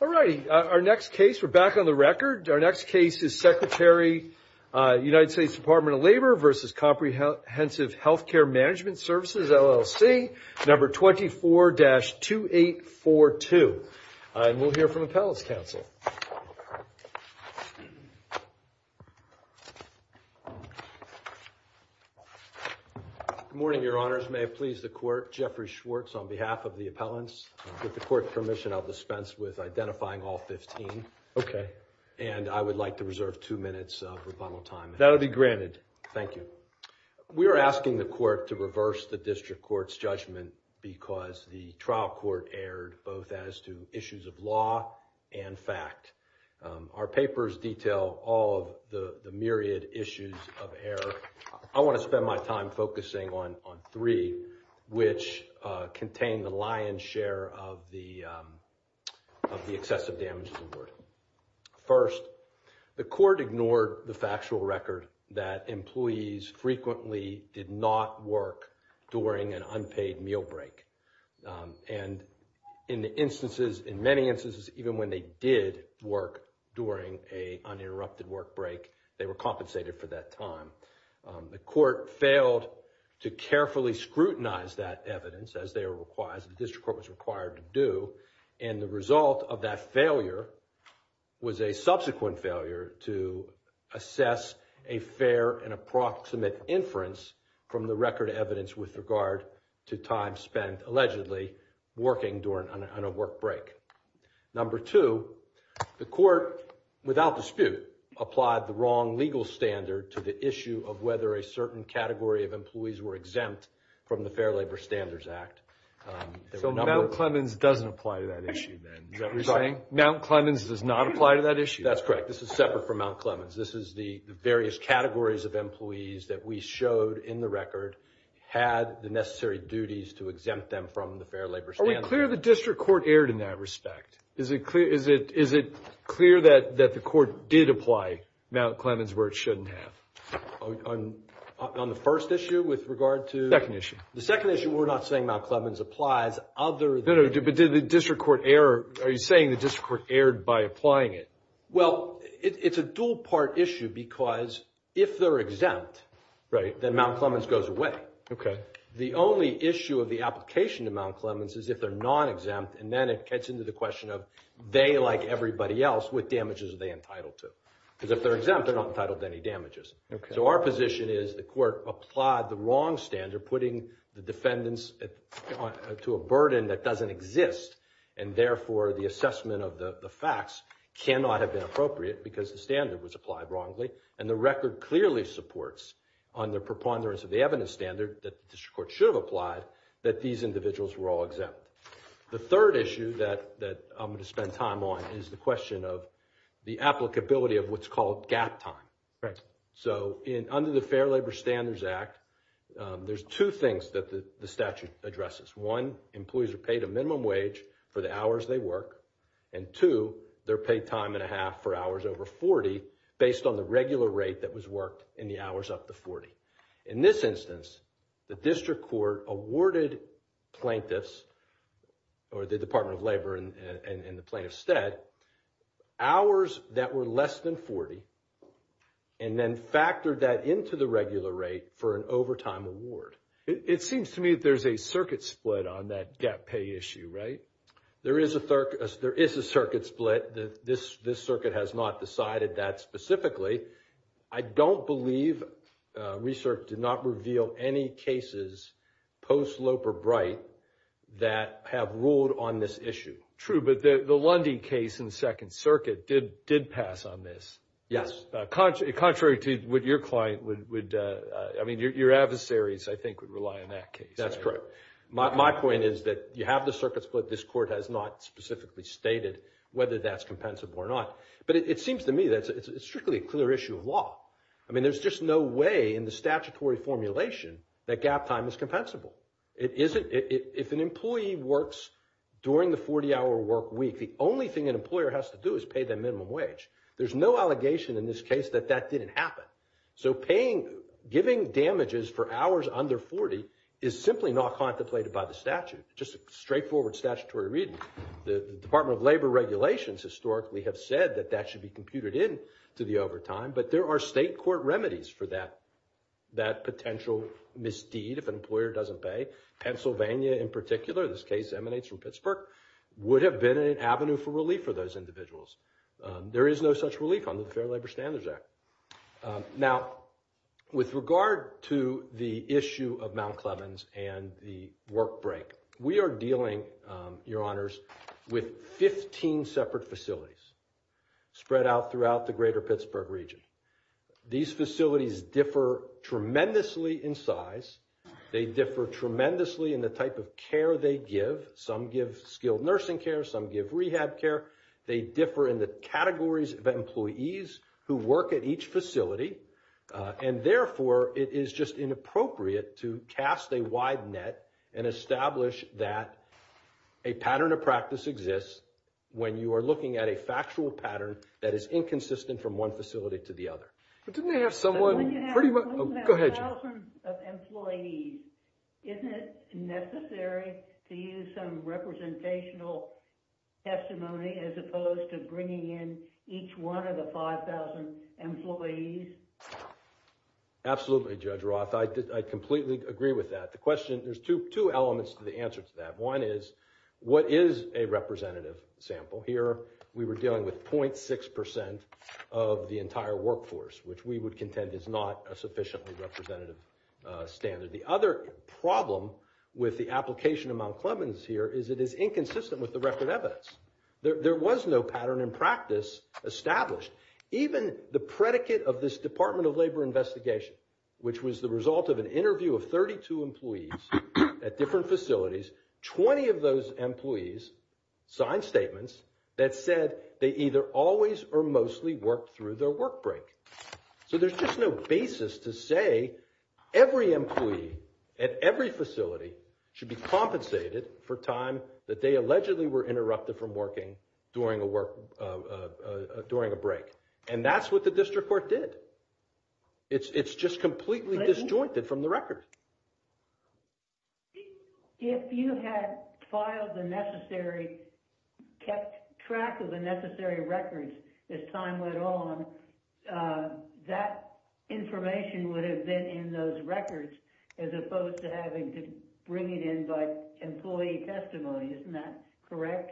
All righty, our next case, we're back on the record. Our next case is Secretary United States Department of Labor v. Comprehensive Healthcare Management Services LLC, number 24-2842. And we'll hear from Appellants Council. Good morning, Your Honors. May it please the Court, Jeffrey Schwartz on behalf of the Appellants. With the Court's permission, I'll dispense with identifying all 15. Okay. And I would like to reserve two minutes of rebuttal time. That'll be granted. Thank you. We're asking the Court to reverse the District Court's judgment because the trial court erred both as to issues of law and fact. Our papers detail all of the myriad issues of error. I want to spend my time focusing on three, which contain the lion's share of the excessive damage. First, the Court ignored the factual record that employees frequently did not work during an unpaid meal break. And in the instances, in many instances, even when they did work during an uninterrupted work break, they were compensated for that time. The Court failed to carefully scrutinize that evidence, as they were required, as the District Court was required to do. And the result of that failure was a subsequent failure to assess a fair and approximate inference from the record evidence with regard to time spent allegedly working during a work break. Number two, the Court, without dispute, applied the wrong legal standard to the issue of whether a certain category of employees were exempt from the Fair Labor Standards Act. So Mount Clemens doesn't apply to that issue, then? Is that what you're saying? Mount Clemens does not apply to that issue. That's correct. This is separate from Mount Clemens. This is the various categories of employees that we showed in the record had the necessary duties to exempt them from the Fair Labor Standards Act. Are we clear the District Court erred in that respect? Is it clear that the Court did apply Mount Clemens where it shouldn't have? On the first issue with regard to... The second issue. The second issue, we're not saying Mount Clemens applies other than... No, no. But did the District Court err... Are you saying the District Court erred by applying it? Well, it's a dual-part issue because if they're exempt, then Mount Clemens goes away. Okay. The only issue of the application to Mount Clemens is if they're non-exempt, and then it gets into the question of they, like everybody else, what damages are they entitled to? Because if they're exempt, they're not entitled to any damages. Okay. So our position is the Court applied the wrong standard, putting the defendants to a burden that doesn't exist, and therefore the assessment of the facts cannot have been appropriate because the standard was applied wrongly, and the record clearly supports, under preponderance of the evidence standard that the District Court should have applied, that these individuals were all exempt. The third issue that I'm going to spend time on is the question of the applicability of what's called gap time. So under the Fair Labor Standards Act, there's two things that the statute addresses. One, employees are paid a minimum wage for the hours they work, and two, they're paid time and a half for hours over 40 based on the regular rate that was worked in the hours up to 40. In this instance, the District Court awarded plaintiffs, or the Department of Labor and the plaintiff's stead, hours that were less than 40, and then factored that into the regular rate for an overtime award. It seems to me that there's a circuit split on that gap pay issue, right? There is a circuit split. This circuit has not decided that specifically. I don't believe research did not reveal any cases post-Loper Bright that have ruled on this issue. True, but the Lundy case in the Second Circuit did pass on this. Yes. Contrary to what your client would, I mean, your adversaries, I think, would rely on that case. That's correct. My point is that you have the circuit split. This Court has not specifically stated whether that's compensable or not. But it seems to me that it's strictly a clear issue of law. I mean, there's just no way in the statutory formulation that gap time is compensable. If an employee works during the 40-hour work week, the only thing an employer has to do is pay the minimum wage. There's no allegation in this case that that didn't happen. So paying, giving damages for hours under 40 is simply not contemplated by the statute. Just a straightforward statutory reading. The Department of Labor regulations historically have said that that should be computed into the overtime, but there are state court remedies for that potential misdeed if an employer doesn't pay. Pennsylvania, in particular, this case emanates from Pittsburgh, would have been an avenue for relief for those individuals. There is no such relief under the Fair Labor Standards Act. Now, with regard to the issue of Mount Clemens and the work break, we are dealing, Your Honors, with 15 separate facilities spread out throughout the greater Pittsburgh region. These facilities differ tremendously in size. They differ tremendously in the type of care they give. Some give skilled nursing care. Some give rehab care. They differ in the categories of employees who work at each facility. And therefore, it is just inappropriate to cast a wide net and establish that a pattern of practice exists when you are looking at a factual pattern that is inconsistent from one facility to the other. But didn't they have someone... But when you have 5,000 employees, isn't it necessary to use some representational testimony as opposed to bringing in each one of the 5,000 employees? Absolutely, Judge Roth. I completely agree with that. The question, there's two elements to the answer to that. One is, what is a representative sample? Here, we were dealing with 0.6% of the entire workforce, which we would contend is not a sufficiently representative standard. The other problem with the application of Mount Clemens here is it is inconsistent with the record evidence. There was no pattern in practice established. Even the predicate of this Department of Labor investigation, which was the result of an 20 of those employees signed statements that said they either always or mostly worked through their work break. So there's just no basis to say every employee at every facility should be compensated for time that they allegedly were interrupted from working during a break. And that's what the district court did. It's just completely disjointed from the record. If you had filed the necessary, kept track of the necessary records as time went on, that information would have been in those records as opposed to having to bring it in by employee testimony. Isn't that correct?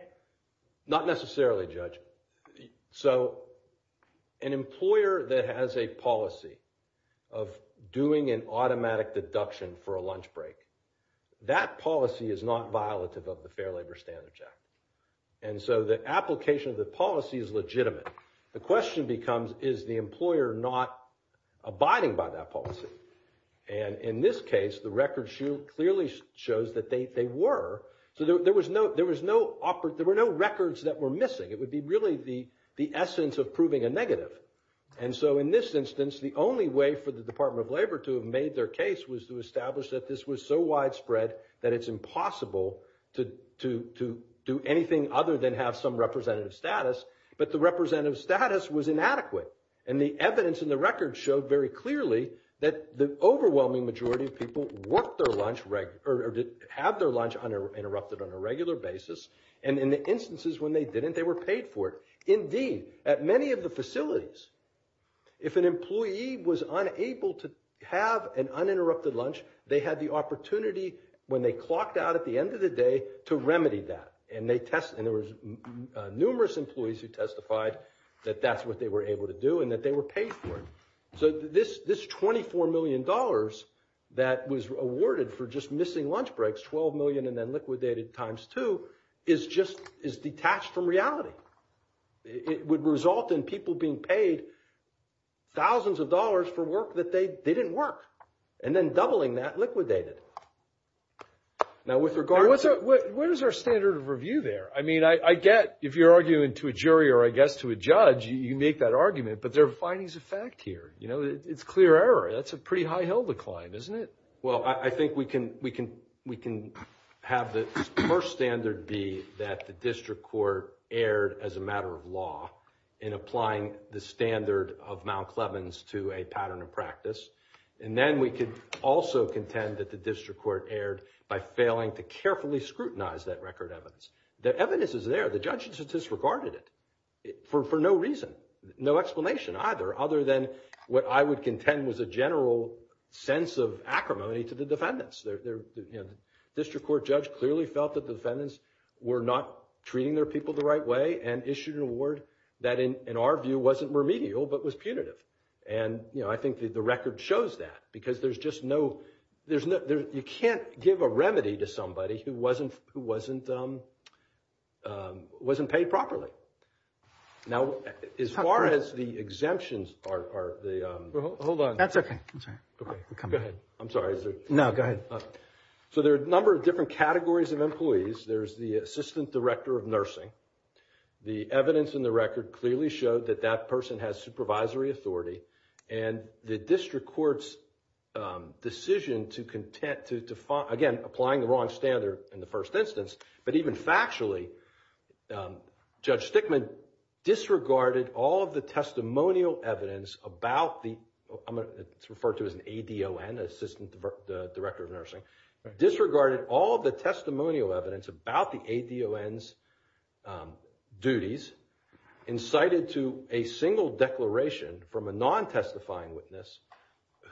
Not necessarily, Judge. So an employer that has a policy of doing an automatic deduction for a lunch break, that policy is not violative of the Fair Labor Standards Act. And so the application of the policy is legitimate. The question becomes, is the employer not abiding by that policy? And in this case, the record clearly shows that they were. So there were no records that were missing. It would be really the essence of proving a negative. And so in this instance, the only way for the Department of Labor to have made their case was to establish that this was so widespread that it's impossible to do anything other than have some representative status. But the representative status was inadequate. And the evidence in the record showed very clearly that the overwhelming majority of people had their lunch interrupted on a regular basis. And in the instances when they didn't, they were paid for it. Indeed, at many of the facilities, if an employee was unable to have an uninterrupted lunch, they had the opportunity, when they clocked out at the end of the day, to remedy that. And there were numerous employees who testified that that's what they were able to do and that they were paid for it. So this $24 million that was awarded for just missing lunch breaks, $12 million and then liquidated times two, is detached from reality. It would result in people being paid thousands of dollars for work that they didn't work and then doubling that liquidated. Now with regard to... What is our standard of review there? I mean, I get if you're arguing to a jury or, I guess, to a judge, you make that argument. But there are findings of fact here. It's clear error. That's a pretty high hill decline, isn't it? Well, I think we can have the first standard be that the district court erred as a matter of law in applying the standard of Mount Clevens to a pattern of practice. And then we could also contend that the district court erred by failing to carefully scrutinize that record evidence. The evidence is there. The judges have disregarded it for no reason, no explanation either, other than what I would contend was a general sense of acrimony to the defendants. The district court judge clearly felt that the defendants were not treating their people the right way and issued an award that, in our view, wasn't remedial but was punitive. And I think the record shows that because there's just no... You can't give a remedy to somebody who wasn't paid properly. Now, as far as the exemptions are... Hold on. That's okay. I'm sorry. Go ahead. I'm sorry. No, go ahead. So there are a number of different categories of employees. There's the assistant director of nursing. The evidence in the record clearly showed that that person has supervisory authority. And the district court's decision to, again, applying the wrong standard in the first instance, but even factually, Judge Stickman disregarded all of the testimonial evidence about the... It's referred to as an ADON, assistant director of nursing, disregarded all of the testimonial evidence about the ADON's duties and cited to a single declaration from a non-testifying witness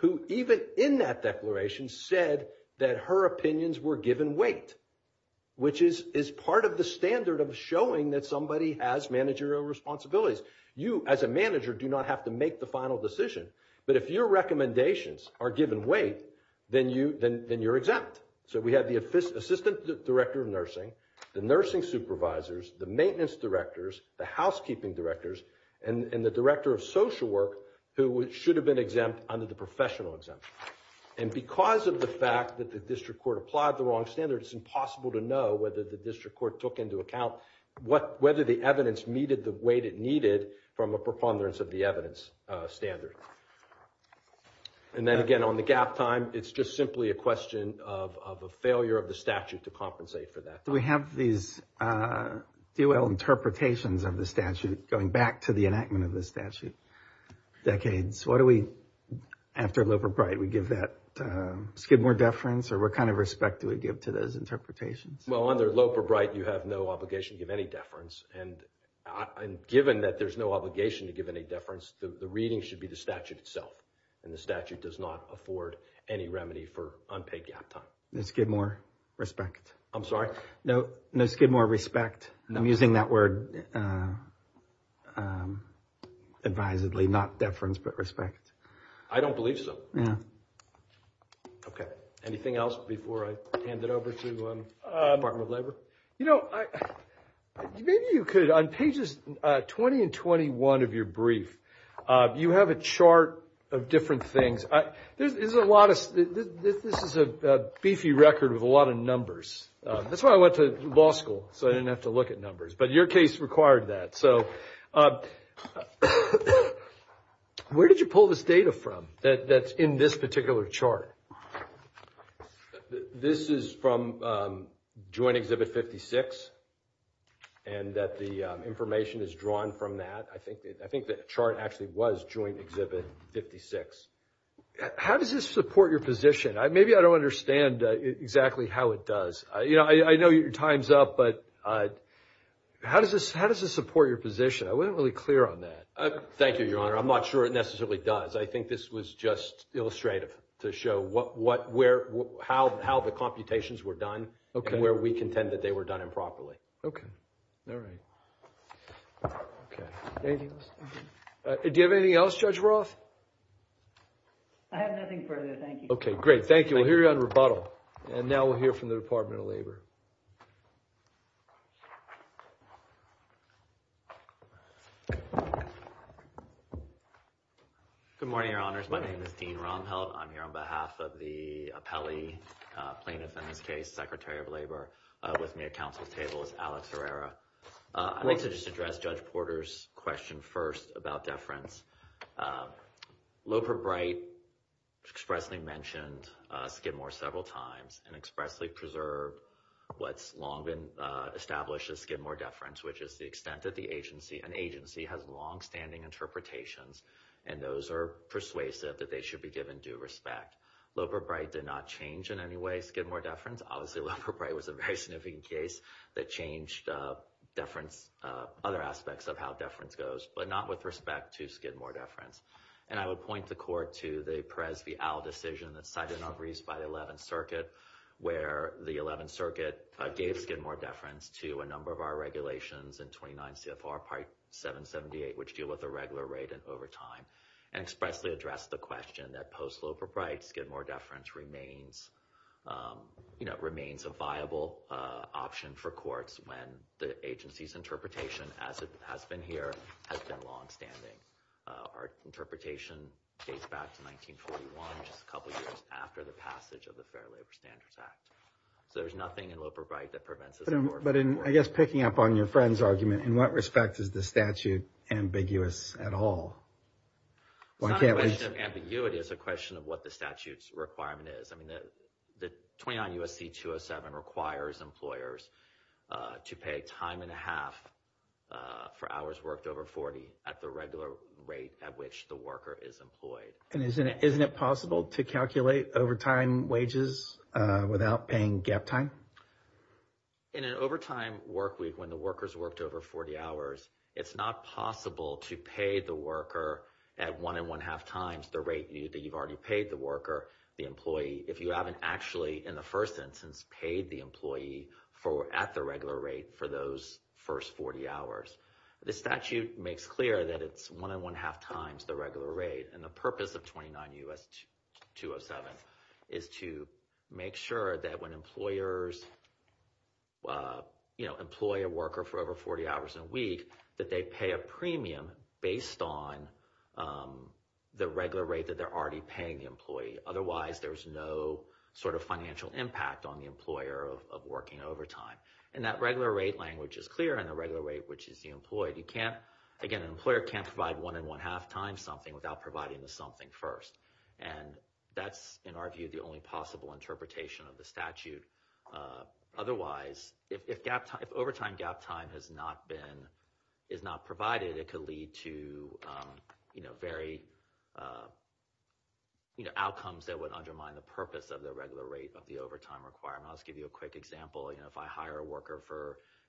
who even in that declaration said that her opinions were given weight, which is part of the standard of showing that somebody has managerial responsibilities. You, as a manager, do not have to make the final decision, but if your recommendations are given weight, then you're exempt. So we have the assistant director of nursing, the nursing supervisors, the maintenance directors, the housekeeping directors, and the director of social work who should have been exempt under the professional exemption. And because of the fact that the district court applied the wrong standard, it's impossible to know whether the district court took into account whether the evidence needed the weight it needed from a preponderance of the evidence standard. And then again, on the gap time, it's just simply a question of a failure of the statute to compensate for that. Do we have these DOL interpretations of the statute going back to the enactment of the statute decades? After Lope or Bright, we give that Skidmore deference? Or what kind of respect do we give to those interpretations? Well, under Lope or Bright, you have no obligation to give any deference. And given that there's no obligation to give any deference, the reading should be the statute itself. And the statute does not afford any remedy for unpaid gap time. No Skidmore respect. I'm sorry? No Skidmore respect. I'm using that word advisedly, not deference, but respect. I don't believe so. Yeah. Okay. Anything else before I hand it over to the Department of Labor? You know, maybe you could, on pages 20 and 21 of your brief, you have a chart of different things. This is a beefy record with a lot of numbers. That's why I went to law school, so I didn't have to look at numbers. But your case required that. So where did you pull this data from that's in this particular chart? This is from Joint Exhibit 56, and the information is drawn from that. I think the chart actually was Joint Exhibit 56. How does this support your position? Maybe I don't understand exactly how it does. I know your time's up, but how does this support your position? I wasn't really clear on that. Thank you, Your Honor. I'm not sure it necessarily does. I think this was just illustrative to show how the computations were done and where we contend that they were done improperly. Okay. All right. Okay. Anything else? Do you have anything else, Judge Roth? I have nothing further. Thank you. Okay, great. Thank you. We'll hear you on rebuttal. And now we'll hear from the Department of Labor. Good morning, Your Honors. My name is Dean Romhelt. I'm here on behalf of the appellee plaintiff in this case, Secretary of Labor. With me at counsel's table is Alex Herrera. I'd like to just address Judge Porter's question first about deference. Loper Bright expressly mentioned Skidmore several times and expressly preserved what's long been established as Skidmore deference, which is the extent that an agency has longstanding interpretations, and those are persuasive that they should be given due respect. Loper Bright did not change in any way Skidmore deference. Obviously, Loper Bright was a very significant case that changed deference, other aspects of how deference goes, but not with respect to Skidmore deference. And I would point the court to the Perez v. Owl decision that's cited in our briefs by the 11th Circuit, where the 11th Circuit gave Skidmore deference to a number of our regulations in 29 CFR Part 778, which deal with the regular rate and overtime, and expressly addressed the question that post Loper Bright, Skidmore deference remains a viable option for courts when the agency's interpretation, as it has been here, has been longstanding. Our interpretation dates back to 1941, just a couple of years after the passage of the Fair Labor Standards Act. So there's nothing in Loper Bright that prevents us from working together. But I guess picking up on your friend's argument, in what respect is the statute ambiguous at all? It's not a question of ambiguity, it's a question of what the statute's requirement is. I mean, the 29 U.S.C. 207 requires employers to pay time and a half for hours worked over 40 at the regular rate at which the worker is employed. And isn't it possible to calculate overtime wages without paying gap time? In an overtime workweek, when the worker's worked over 40 hours, it's not possible to pay the worker at one and one-half times the rate that you've already paid the worker if you haven't actually, in the first instance, paid the employee at the regular rate for those first 40 hours. The statute makes clear that it's one and one-half times the regular rate. And the purpose of 29 U.S.C. 207 is to make sure that when employers employ a worker for over 40 hours in a week, that they pay a premium based on the regular rate that they're already paying the employee. Otherwise, there's no sort of financial impact on the employer of working overtime. And that regular rate language is clear, and the regular rate, which is the employee. Again, an employer can't provide one and one-half times something without providing the something first. And that's, in our view, the only possible interpretation of the statute. Otherwise, if overtime gap time is not provided, it could lead to outcomes that would undermine the purpose of the regular rate of the overtime requirement. I'll just give you a quick example. If I hire a worker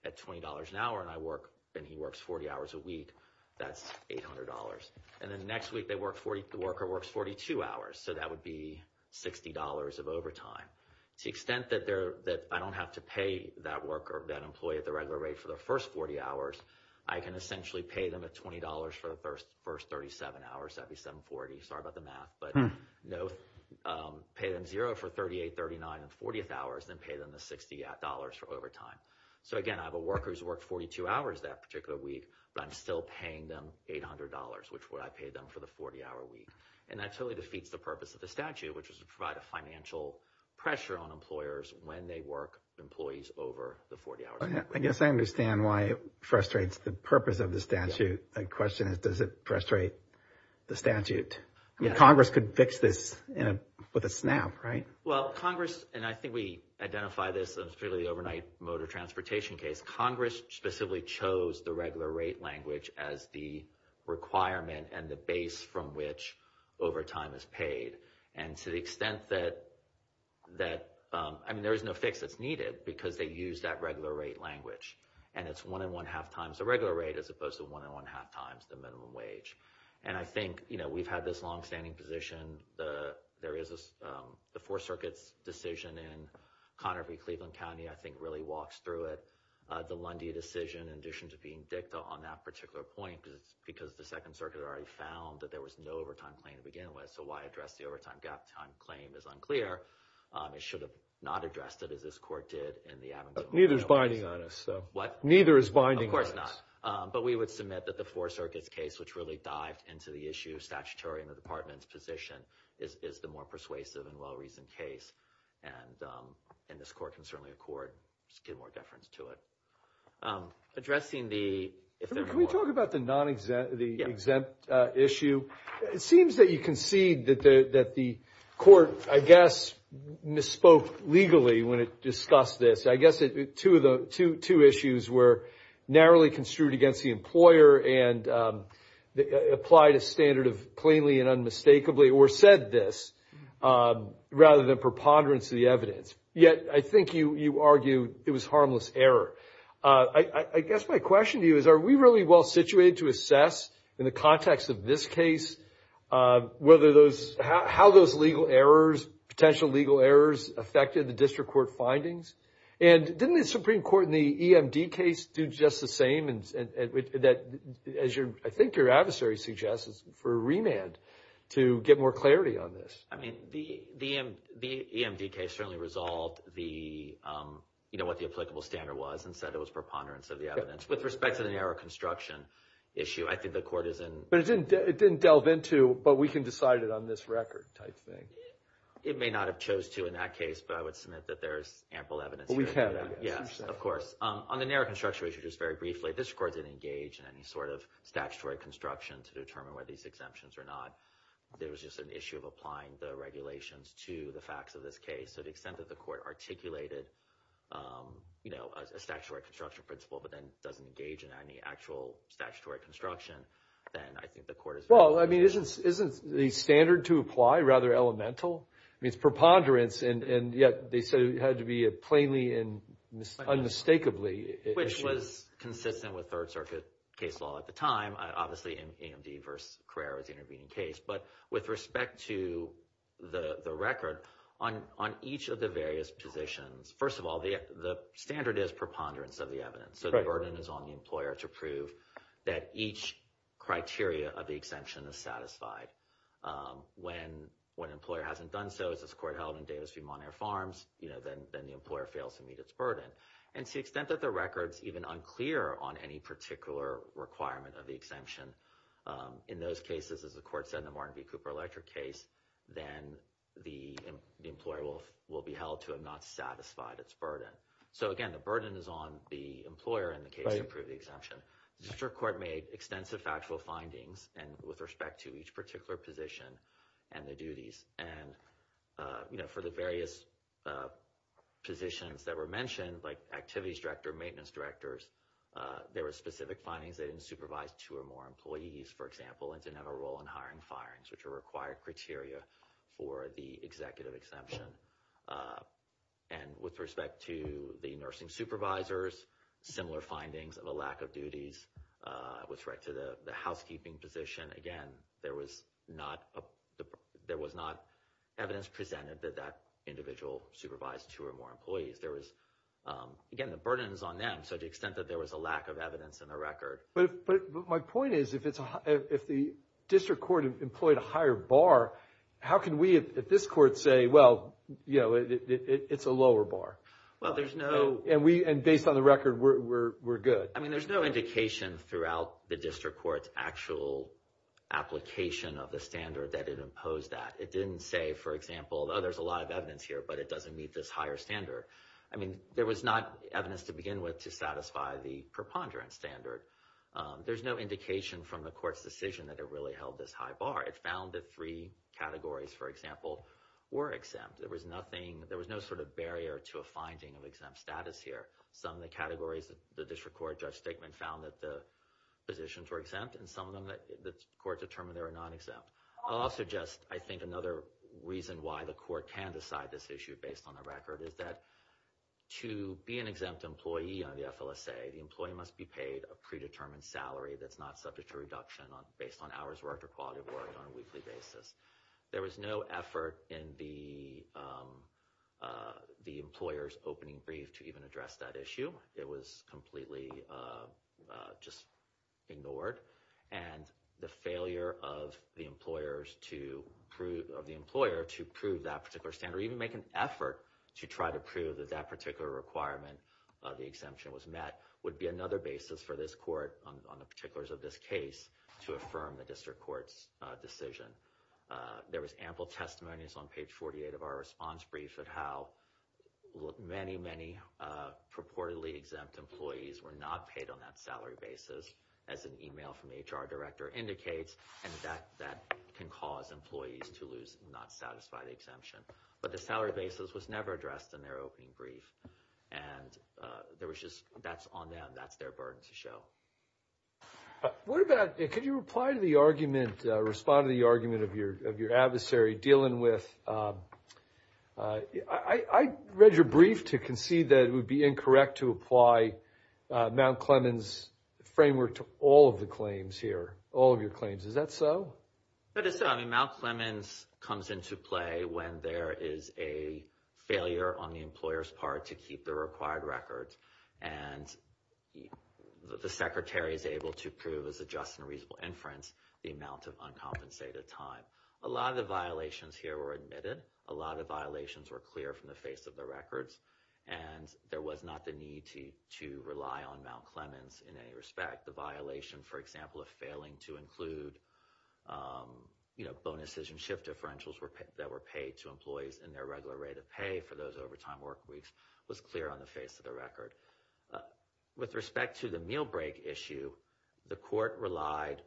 at $20 an hour and he works 40 hours a week, that's $800. And then the next week the worker works 42 hours, so that would be $60 of overtime. To the extent that I don't have to pay that worker, that employee at the regular rate for the first 40 hours, I can essentially pay them at $20 for the first 37 hours. That would be 740. Sorry about the math. But pay them zero for 38, 39, and 40th hours, then pay them the $60 for overtime. So, again, I have a worker who's worked 42 hours that particular week, but I'm still paying them $800, which is what I paid them for the 40-hour week. And that totally defeats the purpose of the statute, which is to provide a financial pressure on employers when they work with employees over the 40-hour period. I guess I understand why it frustrates the purpose of the statute. The question is, does it frustrate the statute? Congress could fix this with a snap, right? Well, Congress, and I think we identified this in the overnight motor transportation case, Congress specifically chose the regular rate language as the requirement and the base from which overtime is paid. And to the extent that, I mean, there is no fix that's needed because they used that regular rate language. And it's one and one-half times the regular rate as opposed to one and one-half times the minimum wage. And I think, you know, we've had this long-standing position. There is the Fourth Circuit's decision in Conner v. Cleveland County I think really walks through it. The Lundy decision, in addition to being dicta on that particular point, because the Second Circuit already found that there was no overtime claim to begin with, so why address the overtime gap time claim is unclear. It should have not addressed it, as this court did in the Abingdon case. Neither is binding on us. What? Neither is binding on us. Of course not. But we would submit that the Fourth Circuit's case, which really dived into the issue of statutory and the Department's position, is the more persuasive and well-reasoned case. And this court can certainly accord to get more deference to it. Addressing the... Can we talk about the exempt issue? It seems that you concede that the court, I guess, misspoke legally when it discussed this. I guess two issues were narrowly construed against the employer and applied a standard of plainly and unmistakably, or said this rather than preponderance of the evidence. Yet I think you argue it was harmless error. I guess my question to you is, are we really well-situated to assess, in the context of this case, how those legal errors, potential legal errors, affected the district court findings? And didn't the Supreme Court in the EMD case do just the same? As I think your adversary suggests, for a remand to get more clarity on this. The EMD case certainly resolved what the applicable standard was and said it was preponderance of the evidence. With respect to the narrow construction issue, I think the court is in... But it didn't delve into, but we can decide it on this record type thing. It may not have chose to in that case, but I would submit that there is ample evidence here. We have evidence. Yes, of course. On the narrow construction issue, just very briefly, this court didn't engage in any sort of statutory construction to determine whether these exemptions were not. There was just an issue of applying the regulations to the facts of this case. So the extent that the court articulated a statutory construction principle but then doesn't engage in any actual statutory construction, then I think the court is... Well, I mean, isn't the standard to apply rather elemental? I mean, it's preponderance, and yet they said it had to be a plainly and unmistakably issue. Which was consistent with Third Circuit case law at the time, obviously EMD versus Carrera was the intervening case. But with respect to the record, on each of the various positions, first of all, the standard is preponderance of the evidence. So the burden is on the employer to prove that each criteria of the exemption is satisfied. When an employer hasn't done so, as this court held in Davis v. Monier Farms, then the employer fails to meet its burden. And to the extent that the record's even unclear on any particular requirement of the exemption, in those cases, as the court said in the Martin v. Cooper electric case, then the employer will be held to have not satisfied its burden. So again, the burden is on the employer in the case to prove the exemption. The district court made extensive factual findings with respect to each particular position and the duties. And for the various positions that were mentioned, like activities director, maintenance directors, there were specific findings they didn't supervise two or more employees, for example, and didn't have a role in hiring firings, which are required criteria for the executive exemption. And with respect to the nursing supervisors, similar findings of a lack of duties, with respect to the housekeeping position, again, there was not evidence presented that that individual supervised two or more employees. Again, the burden is on them, so to the extent that there was a lack of evidence in the record. But my point is, if the district court employed a higher bar, how can we at this court say, well, it's a lower bar? And based on the record, we're good. I mean, there's no indication throughout the district court's actual application of the standard that it imposed that. It didn't say, for example, oh, there's a lot of evidence here, but it doesn't meet this higher standard. I mean, there was not evidence to begin with to satisfy the preponderance standard. There's no indication from the court's decision that it really held this high bar. It found that three categories, for example, were exempt. There was no sort of barrier to a finding of exempt status here. Some of the categories the district court judge statement found that the positions were exempt, and some of them the court determined they were non-exempt. I'll also just, I think, another reason why the court can decide this issue based on the record is that to be an exempt employee on the FLSA, the employee must be paid a predetermined salary that's not subject to reduction based on hours worked or quality of work on a weekly basis. There was no effort in the employer's opening brief to even address that issue. It was completely just ignored. And the failure of the employer to prove that particular standard, or even make an effort to try to prove that that particular requirement of the exemption was met, would be another basis for this court, on the particulars of this case, to affirm the district court's decision. There was ample testimonies on page 48 of our response brief of how many, many purportedly exempt employees were not paid on that salary basis, as an email from the HR director indicates, and that can cause employees to lose, not satisfy the exemption. But the salary basis was never addressed in their opening brief. And there was just, that's on them. That's their burden to show. What about, could you reply to the argument, respond to the argument of your adversary dealing with, I read your brief to concede that it would be incorrect to apply Mount Clemens' framework to all of the claims here, all of your claims, is that so? That is so. I mean, Mount Clemens comes into play when there is a failure on the employer's part to keep the required records. And the secretary is able to prove, as a just and reasonable inference, the amount of uncompensated time. A lot of the violations here were admitted. A lot of the violations were clear from the face of the records. And there was not the need to rely on Mount Clemens in any respect. The violation, for example, of failing to include bonuses and shift differentials that were paid to employees in their regular rate of pay for those overtime work weeks was clear on the face of the record. With respect to the meal break issue, the court relied,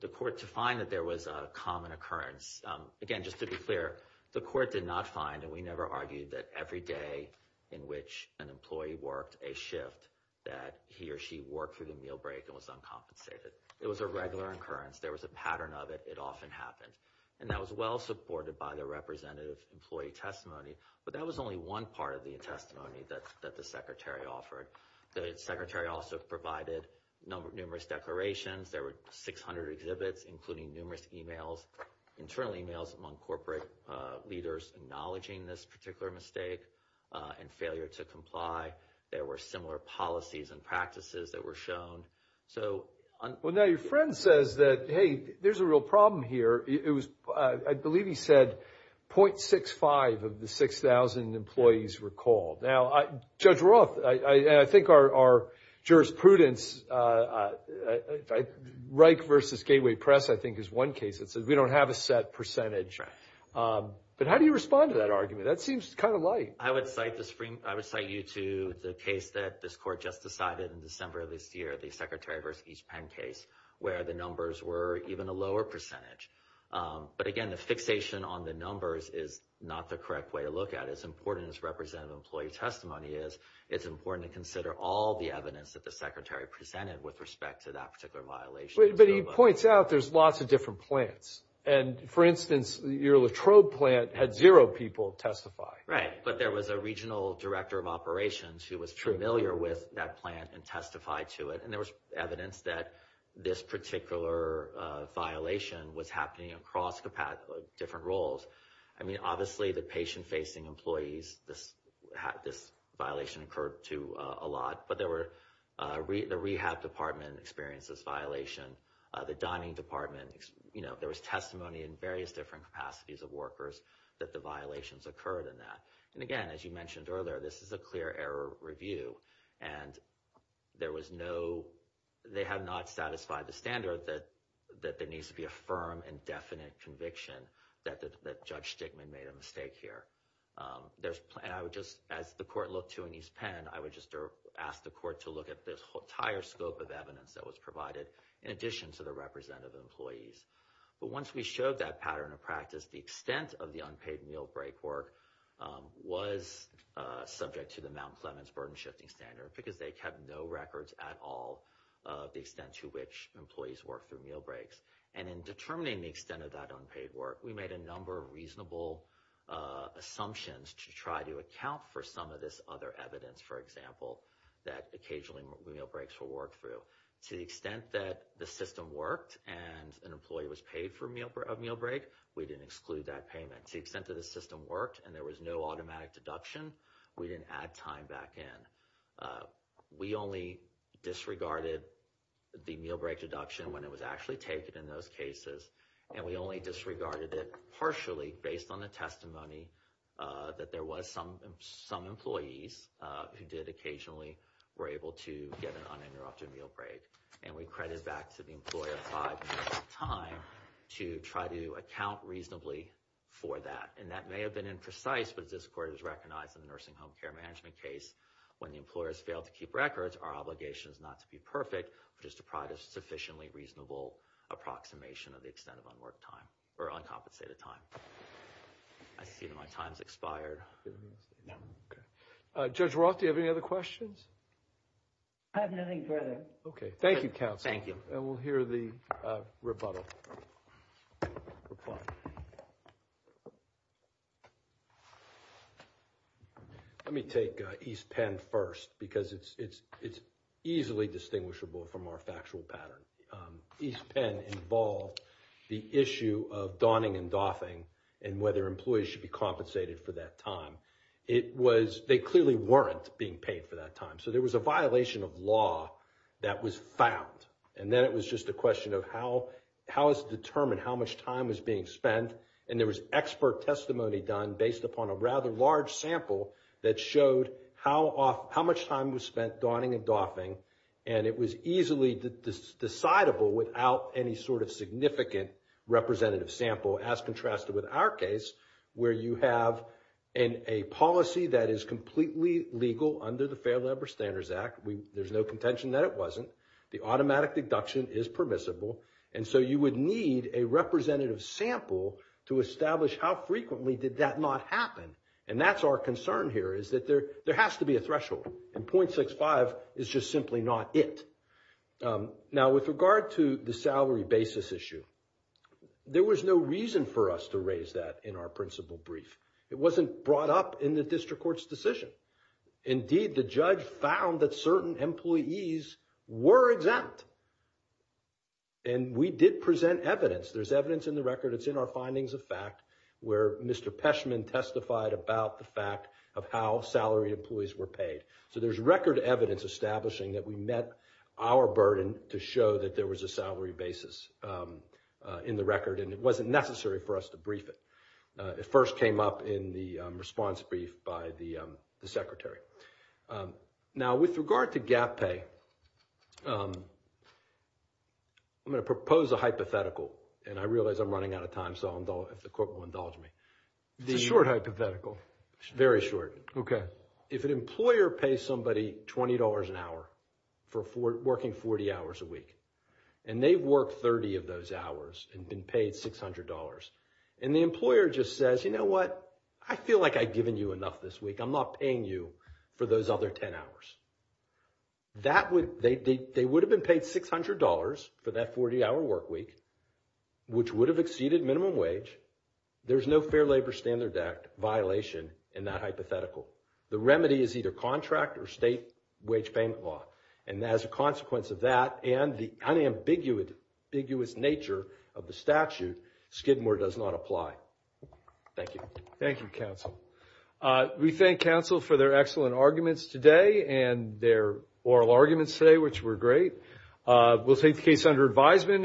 the court, to find that there was a common occurrence. Again, just to be clear, the court did not find, and we never argued that every day in which an employee worked a shift that he or she worked through the meal break and was uncompensated. It was a regular occurrence. There was a pattern of it. It often happened. And that was well supported by the representative employee testimony. But that was only one part of the testimony that the secretary offered. The secretary also provided numerous declarations. There were 600 exhibits, including numerous emails, internal emails among corporate leaders acknowledging this particular mistake and failure to comply. There were similar policies and practices that were shown. So... Well, now your friend says that, hey, there's a real problem here. I believe he said .65 of the 6,000 employees recalled. Now, Judge Roth, I think our jurisprudence... Reich v. Gateway Press, I think, is one case that says we don't have a set percentage. Right. But how do you respond to that argument? That seems kind of light. I would cite you to the case that this court just decided in December of this year, the Secretary v. East Penn case, where the numbers were even a lower percentage. But again, the fixation on the numbers is not the correct way to look at it. As important as representative employee testimony is, it's important to consider all the evidence that the secretary presented with respect to that particular violation. But he points out there's lots of different plants. And, for instance, your Latrobe plant had zero people testify. Right. But there was a regional director of operations who was familiar with that plant and testified to it. And there was evidence that this particular violation was happening across different roles. I mean, obviously, the patient-facing employees, this violation occurred to a lot. But there were... The rehab department experienced this violation. The dining department... You know, there was testimony in various different capacities of workers that the violations occurred in that. And again, as you mentioned earlier, this is a clear error review. And there was no... They have not satisfied the standard that there needs to be a firm and definite conviction that Judge Stickman made a mistake here. And I would just... As the court looked to an East Penn, I would just ask the court to look at the entire scope of evidence that was provided in addition to the representative employees. But once we showed that pattern of practice, the extent of the unpaid meal break work was subject to the Mount Clemens Burden Shifting Standard because they kept no records at all of the extent to which employees worked through meal breaks. And in determining the extent of that unpaid work, we made a number of reasonable assumptions to try to account for some of this other evidence, for example, that occasionally meal breaks were worked through. To the extent that the system worked and an employee was paid for a meal break, we didn't exclude that payment. To the extent that the system worked and there was no automatic deduction, we didn't add time back in. We only disregarded the meal break deduction when it was actually taken in those cases, and we only disregarded it partially based on the testimony that there was some employees who did occasionally were able to get an uninterrupted meal break. And we credit back to the employer five minutes of time to try to account reasonably for that. And that may have been imprecise, but it's as court has recognized in the nursing home care management case. When the employers fail to keep records, our obligation is not to be perfect, but just to provide a sufficiently reasonable approximation of the extent of unworked time or uncompensated time. I see that my time's expired. Judge Roth, do you have any other questions? I have nothing further. OK. Thank you, counsel. Thank you. And we'll hear the rebuttal. Reply. Let me take East Penn first, because it's easily distinguishable from our factual pattern. East Penn involved the issue of donning and doffing and whether employees should be compensated for that time. They clearly weren't being paid for that time, so there was a violation of law that was found. And then it was just a question of how is it determined how much time was being spent? And there was expert testimony done based upon a rather large sample that showed how much time was spent donning and doffing, and it was easily decidable without any sort of significant representative sample, as contrasted with our case, where you have a policy that is completely legal under the Fair Labor Standards Act. There's no contention that it wasn't. The automatic deduction is permissible, and so you would need a representative sample to establish how frequently did that not happen. And that's our concern here is that there has to be a threshold, and .65 is just simply not it. Now, with regard to the salary basis issue, there was no reason for us to raise that in our principal brief. It wasn't brought up in the district court's decision. Indeed, the judge found that certain employees were exempt, and we did present evidence. There's evidence in the record. It's in our findings of fact where Mr. Peshman testified about the fact of how salary employees were paid. So there's record evidence establishing that we met our burden to show that there was a salary basis in the record, and it wasn't necessary for us to brief it. It first came up in the response brief by the secretary. Now, with regard to gap pay, I'm going to propose a hypothetical, and I realize I'm running out of time, so if the court will indulge me. It's a short hypothetical. Very short. Okay. If an employer pays somebody $20 an hour for working 40 hours a week, and they've worked 30 of those hours and been paid $600, and the employer just says, you know what? I feel like I've given you enough this week. I'm not paying you for those other 10 hours. They would have been paid $600 for that 40-hour work week, which would have exceeded minimum wage. There's no Fair Labor Standards Act violation in that hypothetical. The remedy is either contract or state wage payment law, and as a consequence of that and the unambiguous nature of the statute, Skidmore does not apply. Thank you. Thank you, counsel. We thank counsel for their excellent arguments today and their oral arguments today, which were great. We'll take the case under advisement.